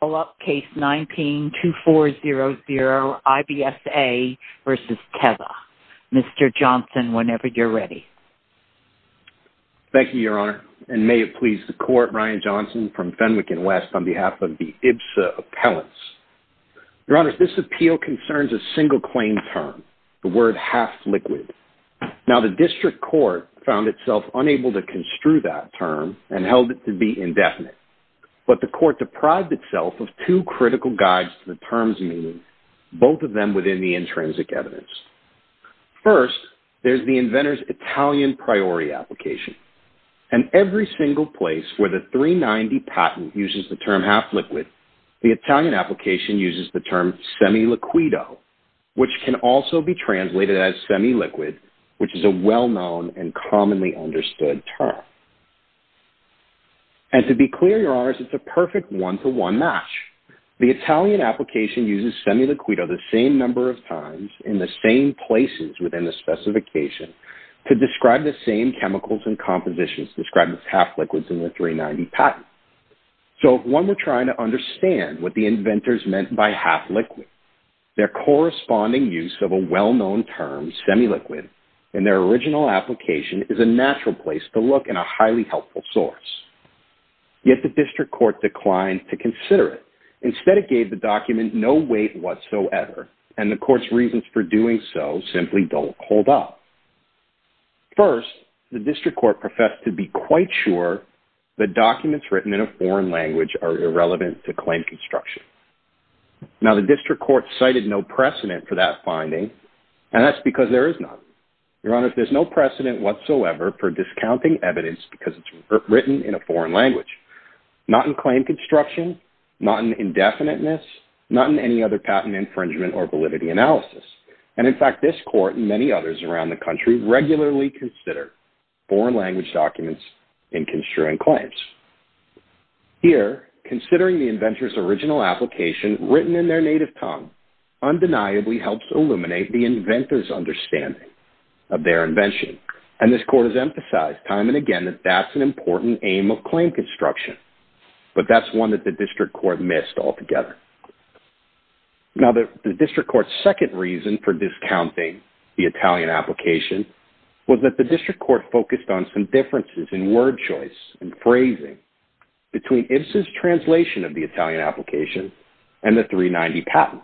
Call up case 19-2400, IBSA v. Teva. Mr. Johnson, whenever you're ready. Thank you, Your Honor. And may it please the Court, Ryan Johnson from Fenwick & West on behalf of the IBSA Appellants. Your Honor, this appeal concerns a single claim term, the word half liquid. Now, the District Court found itself unable to construe that term and held it to be indefinite. But the Court deprived itself of two critical guides to the term's meaning, both of them within the intrinsic evidence. First, there's the inventor's Italian Priority Application. And every single place where the 390 patent uses the term half liquid, the Italian application uses the term semi-liquido, which can also be translated as semi-liquid, which is a well-known and commonly understood term. And to be clear, Your Honor, it's a perfect one-to-one match. The Italian application uses semi-liquido the same number of times in the same places within the specification to describe the same chemicals and compositions described as half liquids in the 390 patent. So if one were trying to understand what the inventors meant by half liquid, their corresponding use of a well-known term, semi-liquid, in their original application is a natural place to look and a highly helpful source. Yet the District Court declined to consider it. Instead, it gave the document no weight whatsoever, and the Court's reasons for doing so simply don't hold up. First, the District Court professed to be quite sure that documents written in a foreign language are irrelevant to claim construction. Now, the District Court cited no precedent for that finding, and that's because there is none. Your Honor, there's no precedent whatsoever for discounting evidence because it's written in a foreign language. Not in claim construction, not in indefiniteness, not in any other patent infringement or validity analysis. And in fact, this Court and many others around the country regularly consider foreign language documents in construing claims. Here, considering the inventor's original application written in their native tongue undeniably helps illuminate the inventor's understanding of their invention. And this Court has emphasized time and again that that's an important aim of claim construction, but that's one that the District Court missed altogether. Now, the District Court's second reason for discounting the Italian application was that the District Court focused on some differences in word choice and phrasing between IBSA's translation of the Italian application and the 390 patent.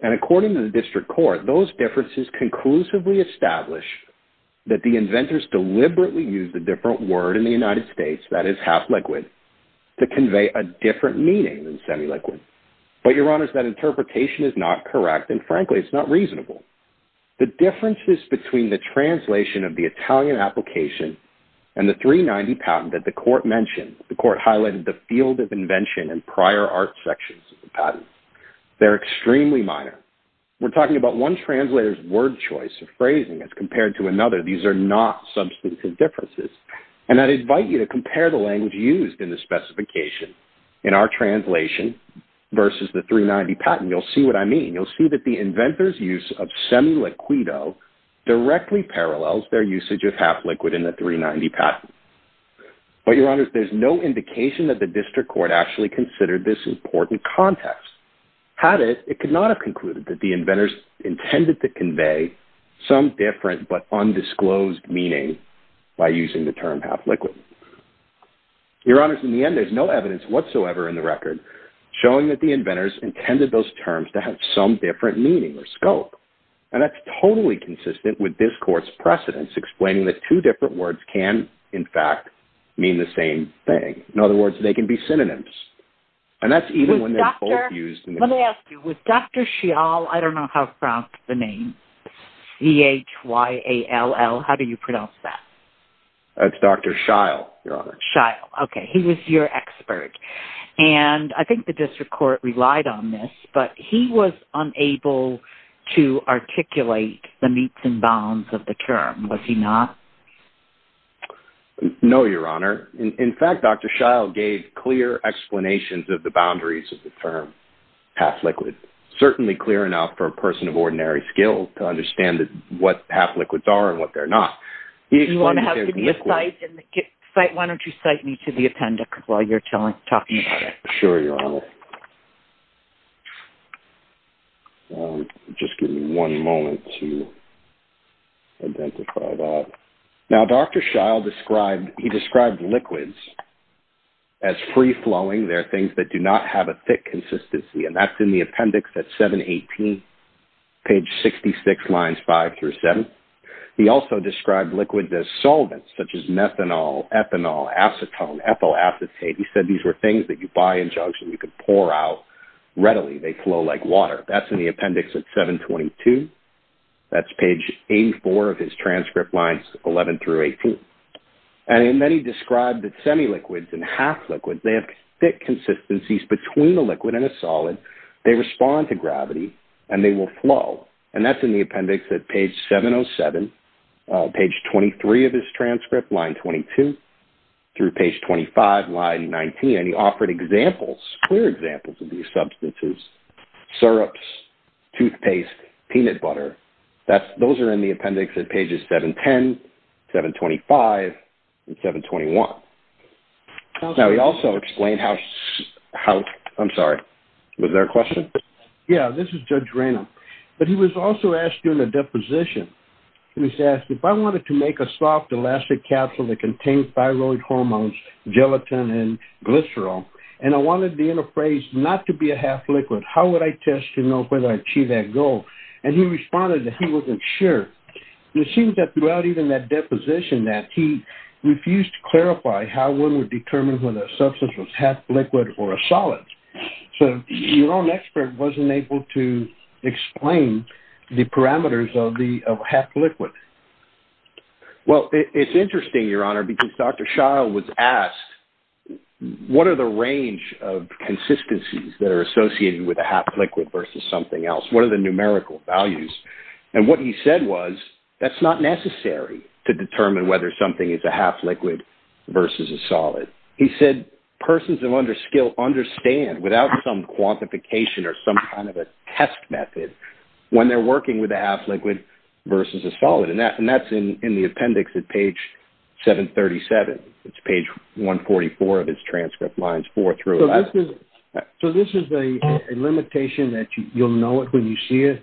And according to the District Court, those differences conclusively establish that the inventors deliberately used a different word in the United States, that is, half liquid, to convey a different meaning than semi-liquid. But, Your Honor, that interpretation is not correct, and frankly, it's not reasonable. The differences between the translation of the Italian application and the 390 patent that the Court mentioned, the Court highlighted the field of invention and prior art sections of the patent. They're extremely minor. We're talking about one translator's word choice or phrasing as compared to another. These are not substantive differences. And I'd invite you to compare the language used in the specification in our translation versus the 390 patent. You'll see what I mean. You'll see that the inventors' use of semi-liquido directly parallels their usage of half liquid in the 390 patent. But, Your Honor, there's no indication that the District Court actually considered this important context. Had it, it could not have concluded that the inventors intended to convey some different but undisclosed meaning by using the term half liquid. Your Honors, in the end, there's no evidence whatsoever in the record showing that the inventors intended those terms to have some different meaning or scope. And that's totally consistent with this Court's precedence explaining that two different words can, in fact, mean the same thing. In other words, they can be synonyms. And that's even when they're both used... Let me ask you. Was Dr. Shial... I don't know how to pronounce the name. C-H-Y-A-L-L. How do you pronounce that? That's Dr. Shial, Your Honor. Shial. Okay. He was your expert. And I think the District Court relied on this, but he was unable to articulate the meets and bounds of the term. Was he not? No, Your Honor. In fact, Dr. Shial gave clear explanations of the boundaries of the term half liquid, certainly clear enough for a person of ordinary skill to understand what half liquids are and what they're not. Do you want to have me cite? Why don't you cite me to the appendix while you're talking about it? Sure, Your Honor. Just give me one moment to identify that. Now, Dr. Shial described liquids as free-flowing. They're things that do not have a thick consistency, and that's in the appendix at 718, page 66, lines 5 through 7. He also described liquids as solvents, such as methanol, ethanol, acetone, ethyl acetate. He said these were things that you buy in jugs and you could pour out readily. They flow like water. That's in the appendix at 722. That's page 84 of his transcript lines 11 through 18. And then he described that semi-liquids and half-liquids, they have thick consistencies between a liquid and a solid, they respond to gravity, and they will flow. And that's in the appendix at page 707, page 23 of his transcript, line 22, through page 25, line 19. And he offered examples, clear examples of these substances, syrups, toothpaste, peanut butter. Those are in the appendix at pages 710, 725, and 721. Now, he also explained how... I'm sorry. Was there a question? Yeah, this is Judge Ranum. But he was also asked during the deposition, he was asked if I wanted to make a soft, elastic capsule that contained thyroid hormones, gelatin, and glycerol, and I wanted the interface not to be a half-liquid. How would I test to know whether I achieved that goal? And he responded that he wasn't sure. It seems that throughout even that deposition that he refused to clarify how one would determine whether a substance was half-liquid or a solid. So your own expert wasn't able to explain the parameters of half-liquid. Well, it's interesting, Your Honor, because Dr. Schall was asked, what are the range of consistencies that are associated with a half-liquid versus something else? What are the numerical values? And what he said was that's not necessary to determine whether something is a half-liquid versus a solid. He said persons of underskill understand, without some quantification or some kind of a test method, when they're working with a half-liquid versus a solid. And that's in the appendix at page 737. It's page 144 of his transcript, lines 4 through 11. So this is a limitation that you'll know it when you see it?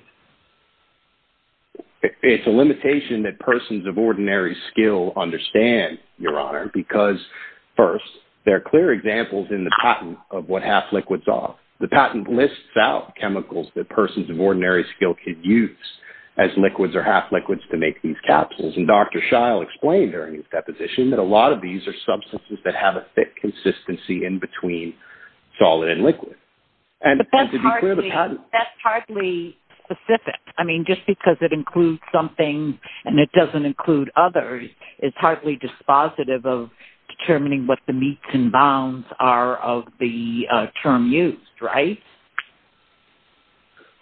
It's a limitation that persons of ordinary skill understand, Your Honor, because, first, there are clear examples in the patent of what half-liquids are. The patent lists out chemicals that persons of ordinary skill could use as liquids or half-liquids to make these capsules. And Dr. Schall explained during his deposition that a lot of these are substances that have a thick consistency in between solid and liquid. But that's hardly specific. I mean, just because it includes something and it doesn't include others is hardly dispositive of determining what the meets and bounds are of the term used, right?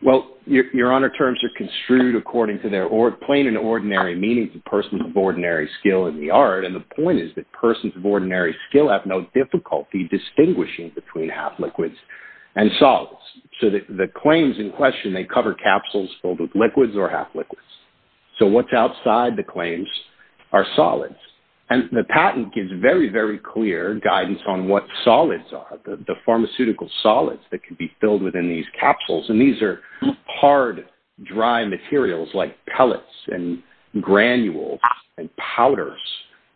Well, Your Honor, terms are construed according to their plain and ordinary meanings of persons of ordinary skill in the art. And the point is that persons of ordinary skill have no difficulty distinguishing between half-liquids and solids. So the claims in question, they cover capsules filled with liquids or half-liquids. So what's outside the claims are solids. And the patent gives very, very clear guidance on what solids are, the pharmaceutical solids that can be filled within these capsules. And these are hard, dry materials like pellets and granules and powders.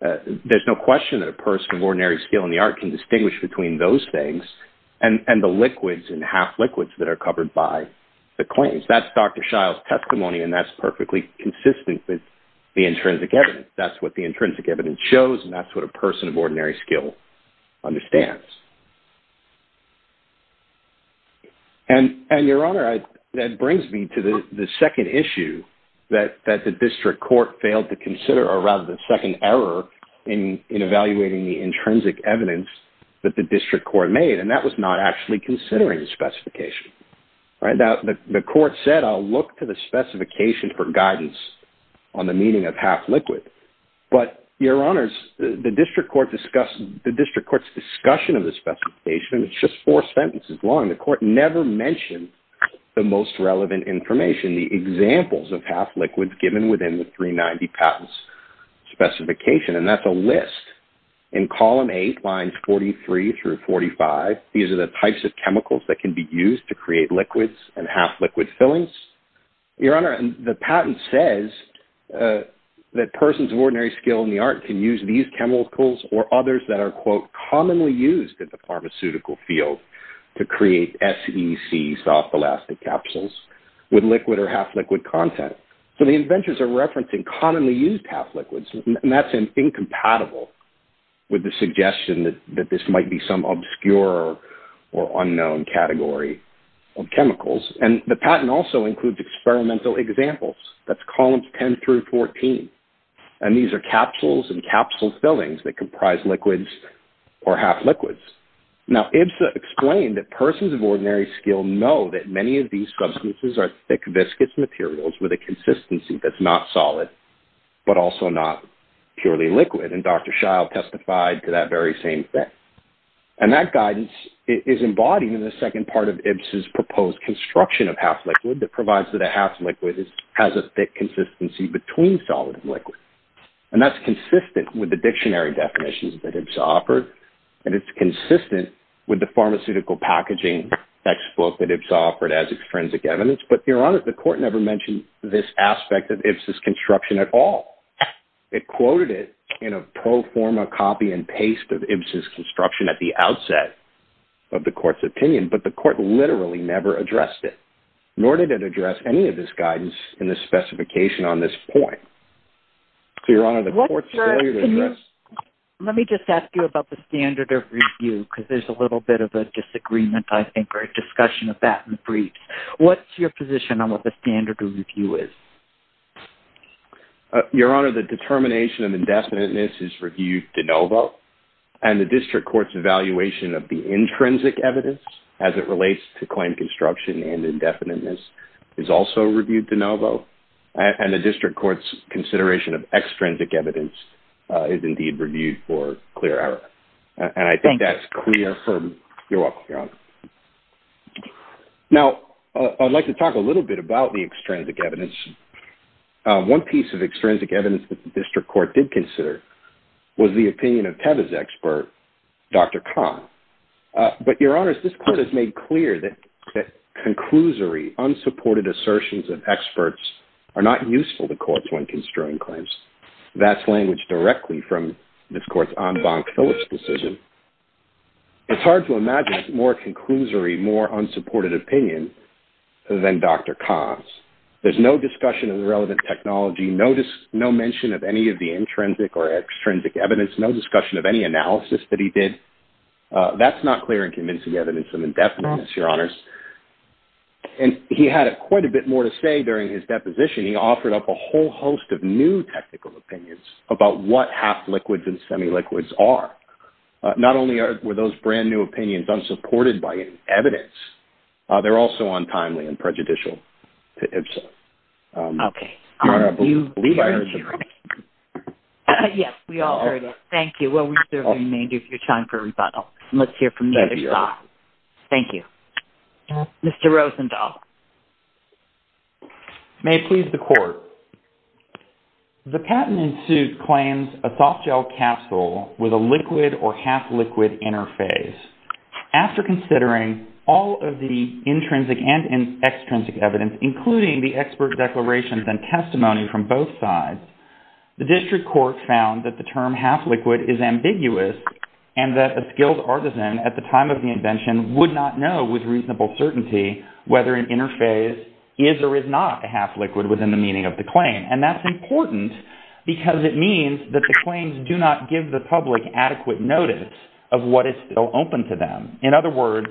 There's no question that a person of ordinary skill in the art can distinguish between those things and the liquids and half-liquids that are covered by the claims. That's Dr. Schall's testimony, and that's perfectly consistent with the intrinsic evidence. That's what the intrinsic evidence shows, and that's what a person of ordinary skill understands. And, Your Honor, that brings me to the second issue that the district court failed to consider, or rather, the second error in evaluating the intrinsic evidence that the district court made, and that was not actually considering the specification. The court said, I'll look to the specification for guidance on the meaning of half-liquid. But, Your Honors, the district court's discussion of the specification, it's just four sentences long. The court never mentioned the most relevant information, the examples of half-liquids given within the 390 patents specification, and that's a list. In column eight, lines 43 through 45, these are the types of chemicals that can be used to create liquids and half-liquid fillings. Your Honor, the patent says that persons of ordinary skill in the art can use these chemicals or others that are, quote, commonly used in the pharmaceutical field to create SEC soft elastic capsules with liquid or half-liquid content. So, the inventors are referencing commonly used half-liquids, and that's incompatible with the suggestion that this might be some obscure or unknown category of chemicals. And the patent also includes experimental examples. That's columns 10 through 14, and these are capsules and capsule fillings that comprise liquids or half-liquids. Now, IBSA explained that persons of ordinary skill know that many of these substances are thick biscuits materials with a consistency that's not solid, but also not purely liquid, and Dr. Scheil testified to that very same thing. And that guidance is embodied in the second part of IBSA's proposed construction of half-liquid that provides that a half-liquid has a thick consistency between solid and liquid, and that's consistent with the dictionary definitions that IBSA offered, and it's consistent with the pharmaceutical packaging textbook that IBSA offered as extrinsic evidence, but, Your Honor, the court never mentioned this aspect of IBSA's construction at all. It quoted it in a pro forma copy and paste of IBSA's construction at the outset of the court's opinion, but the court literally never addressed it, nor did it address any of this guidance in the specification on this point. So, Your Honor, the court's failure to address... Let me just ask you about the standard of review, because there's a little bit of a disagreement, I think, or a discussion of that in the briefs. What's your position on what the standard of review is? Your Honor, the determination of indefiniteness is reviewed de novo, and the district court's evaluation of the intrinsic evidence as it relates to claim construction and indefiniteness is also reviewed de novo, and the district court's consideration of extrinsic evidence is indeed reviewed for clear error, and I think that's clear from... Thank you. You're welcome, Your Honor. Now, I'd like to talk a little bit about the extrinsic evidence. One piece of extrinsic evidence that the district court did consider was the opinion of TEVA's expert, Dr. Kahn. But, Your Honor, this court has made clear that conclusory, unsupported assertions of experts are not useful to courts when construing claims. That's language directly from this court's en banc Phillips decision. It's hard to imagine more conclusory, more unsupported opinion than Dr. Kahn's. There's no discussion of the relevant technology, no mention of any of the intrinsic or extrinsic evidence, no discussion of any analysis that he did. That's not clear and convincing evidence of indefiniteness, Your Honors. And he had quite a bit more to say during his deposition. He offered up a whole host of new technical opinions about what half-liquids and semi-liquids are. Not only were those brand-new opinions unsupported by any evidence, they're also untimely and prejudicial to IBSA. Okay. Your Honor, I believe I heard something. Yes, we all heard it. Thank you. Well, we certainly need your time for rebuttal. Let's hear from the other side. Thank you. Mr. Rosenthal. May it please the Court. The patent in suit claims a soft-gel capsule with a liquid or half-liquid interface. After considering all of the intrinsic and extrinsic evidence, including the expert declarations and testimony from both sides, the district court found that the term half-liquid is ambiguous and that a skilled artisan at the time of the invention would not know with reasonable certainty whether an interface is or is not a half-liquid within the meaning of the claim. And that's important because it means that the claims do not give the public adequate notice of what is still open to them. In other words,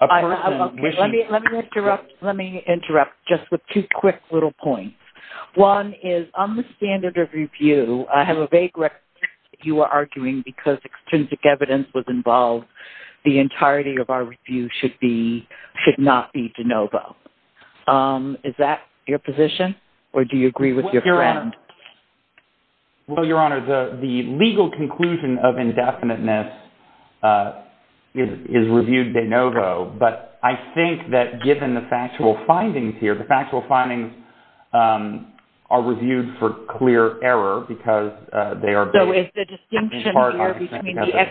a person wishing... Let me interrupt just with two quick little points. One is, on the standard of review, I have a vague recognition that you are arguing because extrinsic evidence was involved, the entirety of our review should not be de novo. Is that your position, or do you agree with your friend? Well, Your Honour, the legal conclusion of indefiniteness is reviewed de novo, but I think that given the factual findings here, the factual findings are reviewed for clear error because they are based in part on extrinsic evidence.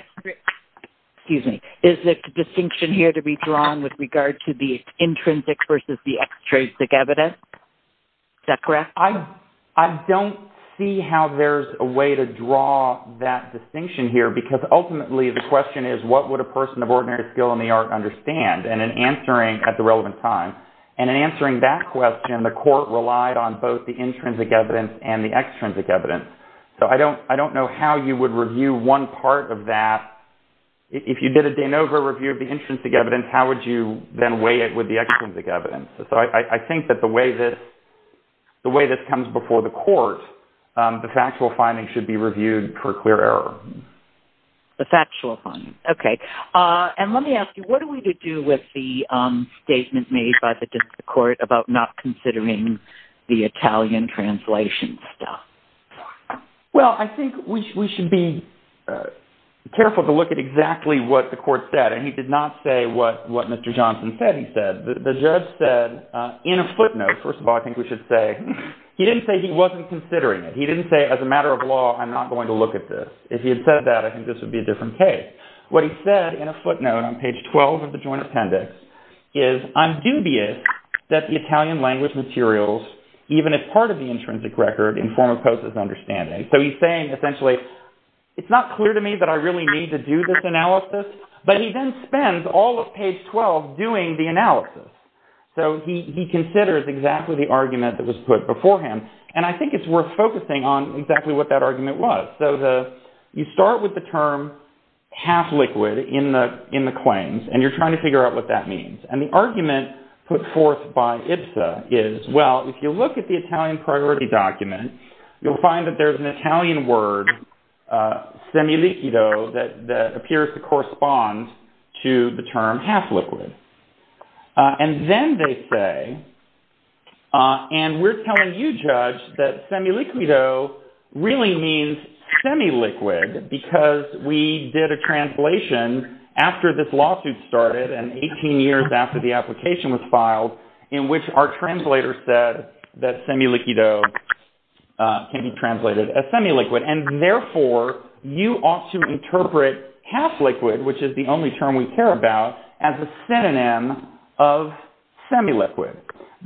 Excuse me. Is the distinction here to be drawn with regard to the intrinsic versus the extrinsic evidence? Is that correct? I don't see how there's a way to draw that distinction here because ultimately the question is, what would a person of ordinary skill in the art understand? And in answering at the relevant time, and in answering that question, the court relied on both the intrinsic evidence and the extrinsic evidence. So I don't know how you would review one part of that. If you did a de novo review of the intrinsic evidence, how would you then weigh it with the extrinsic evidence? So I think that the way this comes before the court, the factual findings should be reviewed for clear error. The factual findings, okay. And let me ask you, what do we do with the statement made by the district court about not considering the Italian translation stuff? Well, I think we should be careful to look at exactly what the court said. And he did not say what Mr. Johnson said he said. The judge said in a footnote, first of all, I think we should say he didn't say he wasn't considering it. He didn't say as a matter of law, I'm not going to look at this. If he had said that, I think this would be a different case. What he said in a footnote on page 12 of the joint appendix is, I'm dubious that the Italian language materials, even as part of the intrinsic record, in form of COSA's understanding. So he's saying essentially, it's not clear to me that I really need to do this analysis. But he then spends all of page 12 doing the analysis. So he considers exactly the argument that was put beforehand. And I think it's worth focusing on exactly what that argument was. So you start with the term half liquid in the claims, and you're trying to figure out what that means. And the argument put forth by IPSA is, well, if you look at the Italian priority document, you'll find that there's an Italian word, semiliquido, that appears to correspond to the term half liquid. And then they say, and we're telling you, Judge, that semiliquido really means semi-liquid because we did a translation after this lawsuit started and 18 years after the application was filed, in which our translator said that semiliquido can be translated as semi-liquid. And therefore, you ought to interpret half liquid, which is the only term we care about, as a synonym of semi-liquid.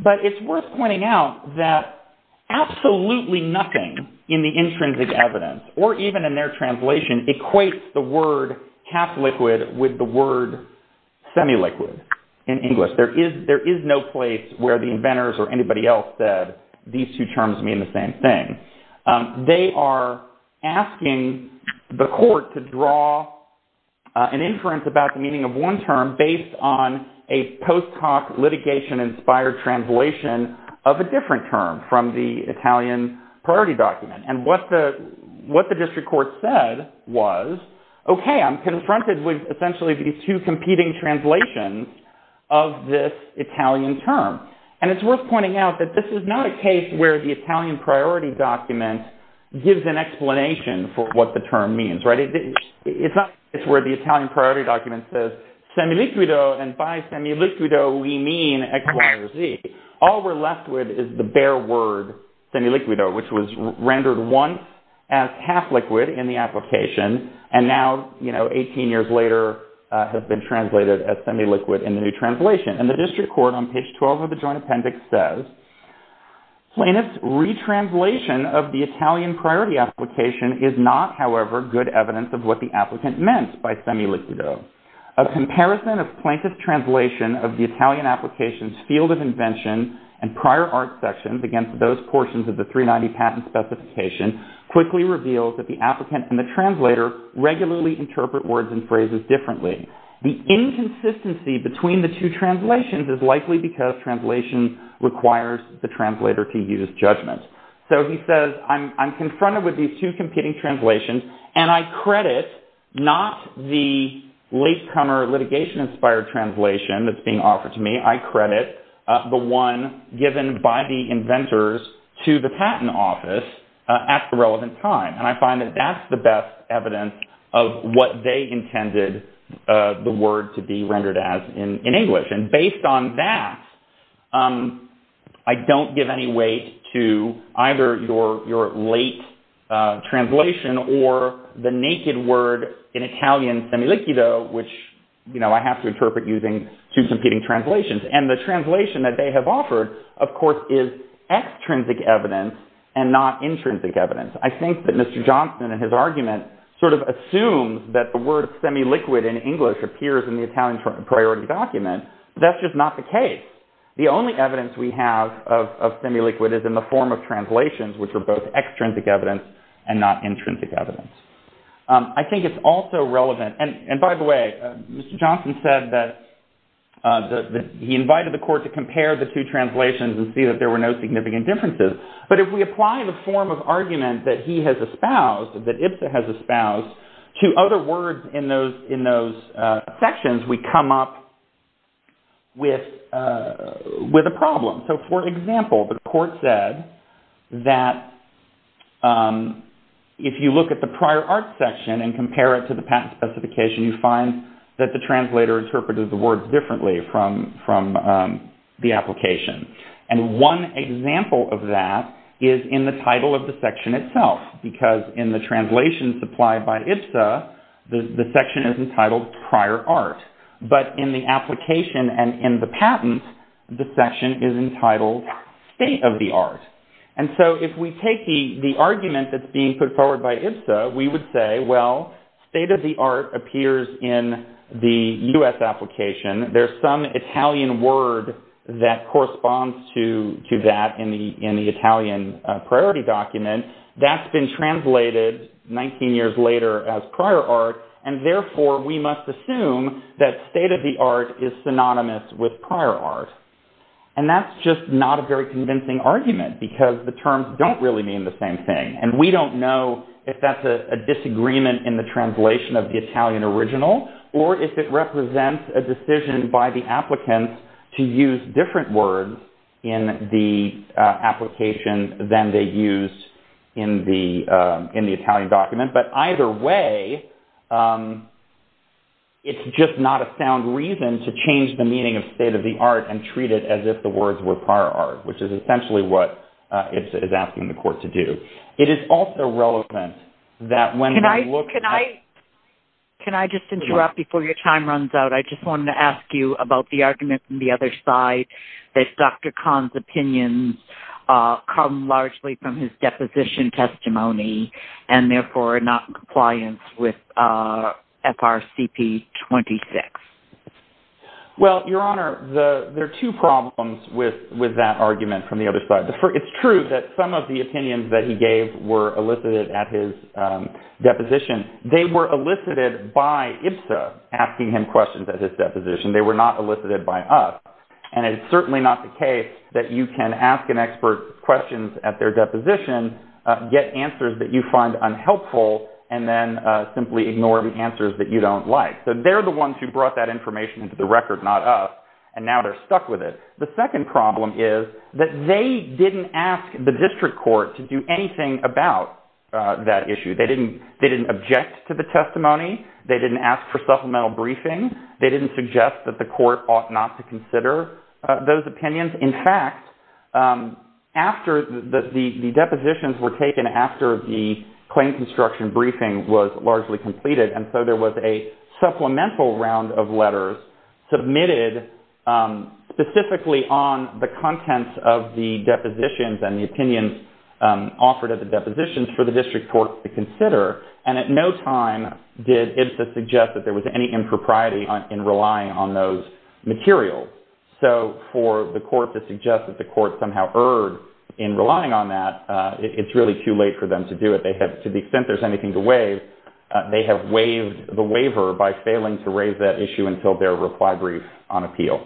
But it's worth pointing out that absolutely nothing in the intrinsic evidence, or even in their translation, equates the word half liquid with the word semi-liquid in English. There is no place where the inventors or anybody else said these two terms mean the same thing. They are asking the court to draw an inference about the meaning of one term based on a post hoc litigation-inspired translation of a different term from the Italian priority document. And what the district court said was, okay, I'm confronted with essentially these two competing translations of this Italian term. And it's worth pointing out that this is not a case where the Italian priority document gives an explanation for what the term means. It's not a case where the Italian priority document says semiliquido, and by semiliquido we mean XYZ. All we're left with is the bare word semiliquido, which was rendered once as half liquid in the application, and now, you know, 18 years later has been translated as semiliquid in the new translation. And the district court on page 12 of the joint appendix says, plaintiff's retranslation of the Italian priority application is not, however, good evidence of what the applicant meant by semiliquido. A comparison of plaintiff's translation of the Italian application's field of invention and prior art sections against those portions of the 390 patent specification quickly reveals that the applicant and the translator regularly interpret words and phrases differently. The inconsistency between the two translations is likely because translation requires the translator to use judgment. So he says, I'm confronted with these two competing translations, and I credit not the latecomer litigation-inspired translation that's being offered to me. I credit the one given by the inventors to the patent office at the relevant time. And I find that that's the best evidence of what they intended the word to be rendered as in English. And based on that, I don't give any weight to either your late translation or the naked word in Italian, semiliquido, which I have to interpret using two competing translations. And the translation that they have offered, of course, is extrinsic evidence and not intrinsic evidence. I think that Mr. Johnson, in his argument, sort of assumes that the word semiliquid in English appears in the Italian priority document. That's just not the case. The only evidence we have of semiliquid is in the form of translations, which are both extrinsic evidence and not intrinsic evidence. I think it's also relevant, and by the way, Mr. Johnson said that he invited the court to compare the two translations and see that there were no significant differences. But if we apply the form of argument that he has espoused, that IBSA has espoused, to other words in those sections, we come up with a problem. So, for example, the court said that if you look at the prior art section and compare it to the patent specification, you find that the translator interpreted the words differently from the application. And one example of that is in the title of the section itself, because in the translation supplied by IBSA, the section is entitled Prior Art. But in the application and in the patent, the section is entitled State of the Art. And so if we take the argument that's being put forward by IBSA, we would say, well, State of the Art appears in the U.S. application. There's some Italian word that corresponds to that in the Italian priority document. That's been translated 19 years later as Prior Art, and therefore we must assume that State of the Art is synonymous with Prior Art. And that's just not a very convincing argument, because the terms don't really mean the same thing. And we don't know if that's a disagreement in the translation of the Italian original, or if it represents a decision by the applicant to use different words in the application than they use in the Italian document. But either way, it's just not a sound reason to change the meaning of State of the Art and treat it as if the words were Prior Art, which is essentially what IBSA is asking the court to do. It is also relevant that when we look at... Can I just interrupt before your time runs out? I just wanted to ask you about the argument on the other side that Dr. Kahn's opinions come largely from his deposition testimony and therefore are not in compliance with FRCP 26. Well, Your Honor, there are two problems with that argument from the other side. It's true that some of the opinions that he gave were elicited at his deposition. They were elicited by IBSA asking him questions at his deposition. They were not elicited by us. And it's certainly not the case that you can ask an expert questions at their deposition, get answers that you find unhelpful, and then simply ignore the answers that you don't like. So they're the ones who brought that information into the record, not us, and now they're stuck with it. The second problem is that they didn't ask the district court to do anything about that issue. They didn't object to the testimony. They didn't ask for supplemental briefing. They didn't suggest that the court ought not to consider those opinions. In fact, the depositions were taken after the claim construction briefing was largely completed, and so there was a supplemental round of letters submitted specifically on the contents of the depositions and the opinions offered at the depositions for the district court to consider, and at no time did IBSA suggest that there was any impropriety in relying on those materials. So for the court to suggest that the court somehow erred in relying on that, it's really too late for them to do it. To the extent there's anything to waive, they have waived the waiver by failing to raise that issue until their reply brief on appeal.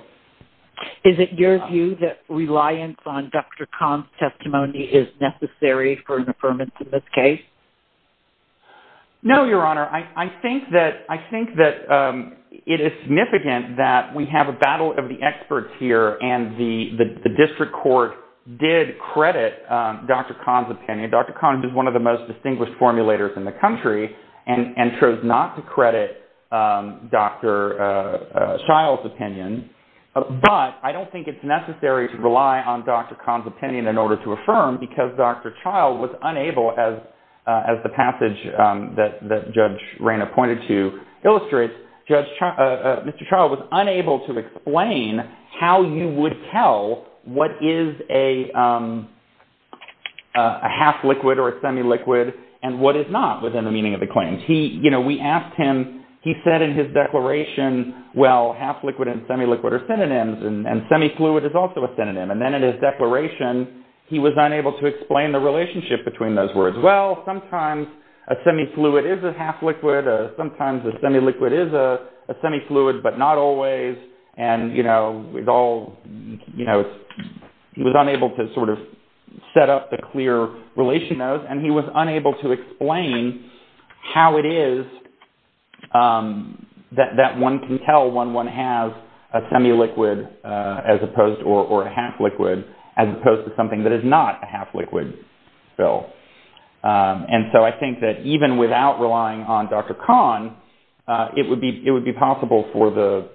Is it your view that reliance on Dr. Kahn's testimony is necessary for an affirmance in this case? No, Your Honor. I think that it is significant that we have a battle of the experts here, and the district court did credit Dr. Kahn's opinion. Dr. Kahn is one of the most distinguished formulators in the country and chose not to credit Dr. Child's opinion, but I don't think it's necessary to rely on Dr. Kahn's opinion in order to affirm because Dr. Child was unable, as the passage that Judge Rayna pointed to illustrates, Mr. Child was unable to explain how you would tell what is a half-liquid or a semi-liquid and what is not within the meaning of the claims. We asked him, he said in his declaration, well, half-liquid and semi-liquid are synonyms, and semi-fluid is also a synonym. And then in his declaration, he was unable to explain the relationship between those words. Well, sometimes a semi-fluid is a half-liquid, sometimes a semi-liquid is a semi-fluid, but not always, and he was unable to set up the clear relation of those, and he was unable to explain how it is that one can tell when one has a semi-liquid or a half-liquid as opposed to something that is not a half-liquid. And so I think that even without relying on Dr. Kahn, it would be possible for the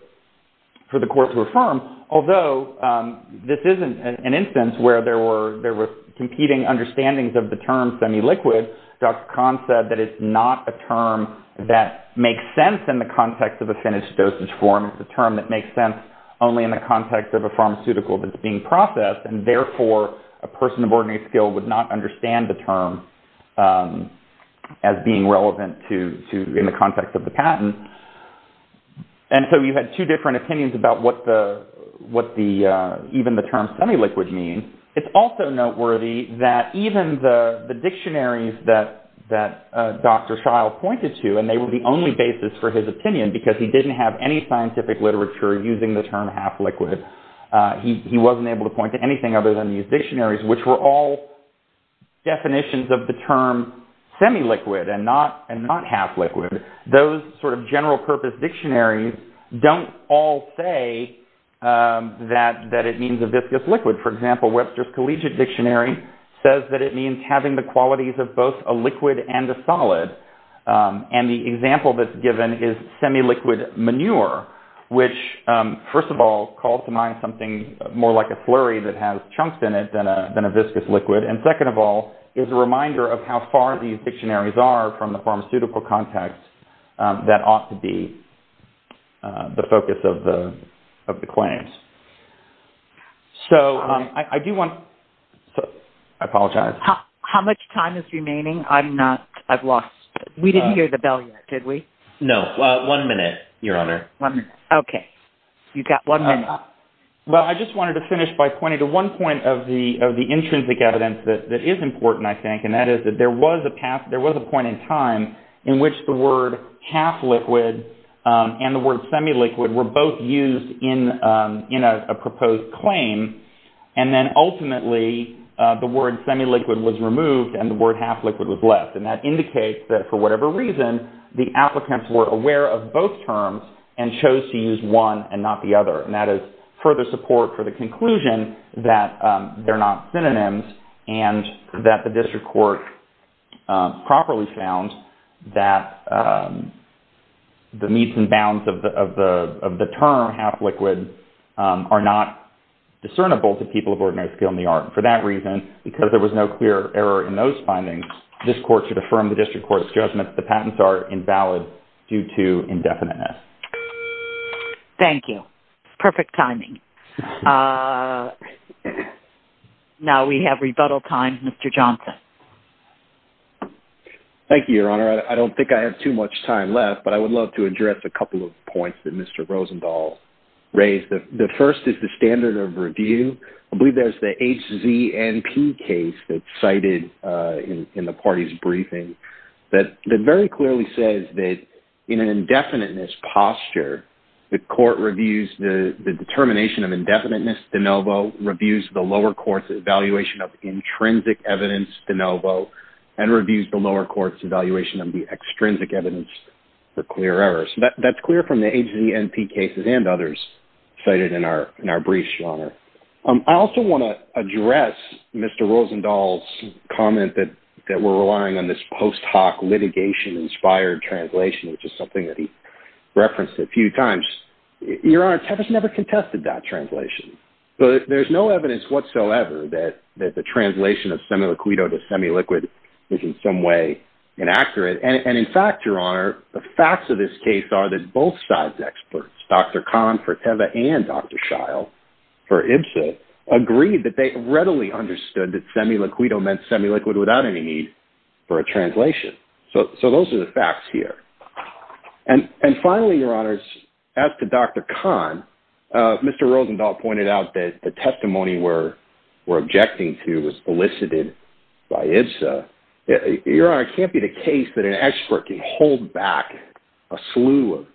court to affirm, although this isn't an instance where there were competing understandings of the term semi-liquid. Dr. Kahn said that it's not a term that makes sense in the context of a finished dosage form. It's a term that makes sense only in the context of a pharmaceutical that's being processed, and therefore a person of ordinary skill would not understand the term as being relevant in the context of the patent. And so you had two different opinions about what even the term semi-liquid means. It's also noteworthy that even the dictionaries that Dr. Shile pointed to, and they were the only basis for his opinion because he didn't have any scientific literature using the term half-liquid. He wasn't able to point to anything other than these dictionaries, which were all definitions of the term semi-liquid and not half-liquid. Those sort of general-purpose dictionaries don't all say that it means a viscous liquid. For example, Webster's Collegiate Dictionary says that it means having the qualities of both a liquid and a solid. And the example that's given is semi-liquid manure, which, first of all, calls to mind something more like a flurry that has chunks in it than a viscous liquid, and second of all, is a reminder of how far these dictionaries are from the pharmaceutical context that ought to be the focus of the claims. So I do want... I apologize. How much time is remaining? I'm not... I've lost... We didn't hear the bell yet, did we? No. One minute, Your Honor. One minute. Okay. You've got one minute. Well, I just wanted to finish by pointing to one point of the intrinsic evidence that is important, I think, and that is that there was a point in time in which the word half-liquid and the word semi-liquid were both used in a proposed claim, and then, ultimately, the word semi-liquid was removed and the word half-liquid was left. And that indicates that, for whatever reason, the applicants were aware of both terms and chose to use one and not the other, and that is further support for the conclusion that they're not synonyms and that the district court properly found that the meets and bounds of the term half-liquid are not discernible to people of ordinary skill in the art. For that reason, because there was no clear error in those findings, this court should affirm the district court's judgment that the patents are invalid due to indefiniteness. Thank you. Perfect timing. Now we have rebuttal time. Mr. Johnson. Thank you, Your Honor. I don't think I have too much time left, but I would love to address a couple of points that Mr. Rosenthal raised. The first is the standard of review. I believe there's the HZNP case that's cited in the party's briefing that very clearly says that in an indefiniteness posture, the court reviews the determination of indefiniteness de novo, reviews the lower court's evaluation of intrinsic evidence de novo, and reviews the lower court's evaluation of the extrinsic evidence for clear errors. That's clear from the HZNP cases and others cited in our briefs, Your Honor. I also want to address Mr. Rosenthal's comment that we're relying on this post-hoc litigation-inspired translation, which is something that he referenced a few times. Your Honor, TEVA's never contested that translation. But there's no evidence whatsoever that the translation of semi-liquido to semi-liquid is in some way inaccurate. And in fact, Your Honor, the facts of this case are that both sides' experts, Dr. Kahn for TEVA and Dr. Scheil for IBSA, agreed that they readily understood that semi-liquido meant semi-liquid without any need for a translation. So those are the facts here. And finally, Your Honor, as to Dr. Kahn, Mr. Rosenthal pointed out that the testimony we're objecting to was elicited by IBSA. Your Honor, it can't be the case that an expert can hold back a slew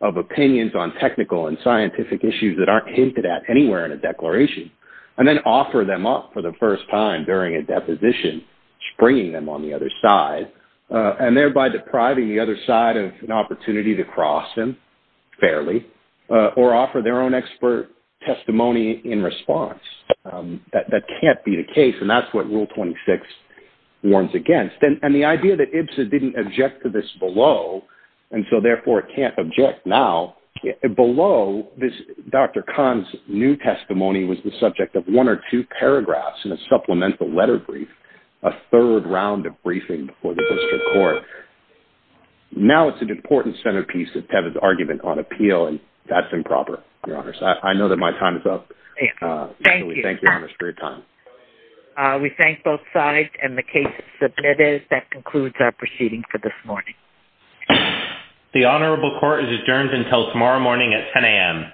of opinions on technical and scientific issues that aren't hinted at anywhere in a declaration and then offer them up for the first time during a deposition, springing them on the other side, and thereby depriving the other side of an opportunity to cross him fairly or offer their own expert testimony in response. That can't be the case, and that's what Rule 26 warns against. And the idea that IBSA didn't object to this below, and so therefore can't object now, below Dr. Kahn's new testimony was the subject of one or two paragraphs in a supplemental letter brief, a third round of briefing before the district court. Now it's an important centerpiece of Tevin's argument on appeal, and that's improper, Your Honor. I know that my time is up. Thank you. Thank you, Your Honor, for your time. We thank both sides and the case submitters. That concludes our proceeding for this morning. The honorable court is adjourned until tomorrow morning at 10 a.m.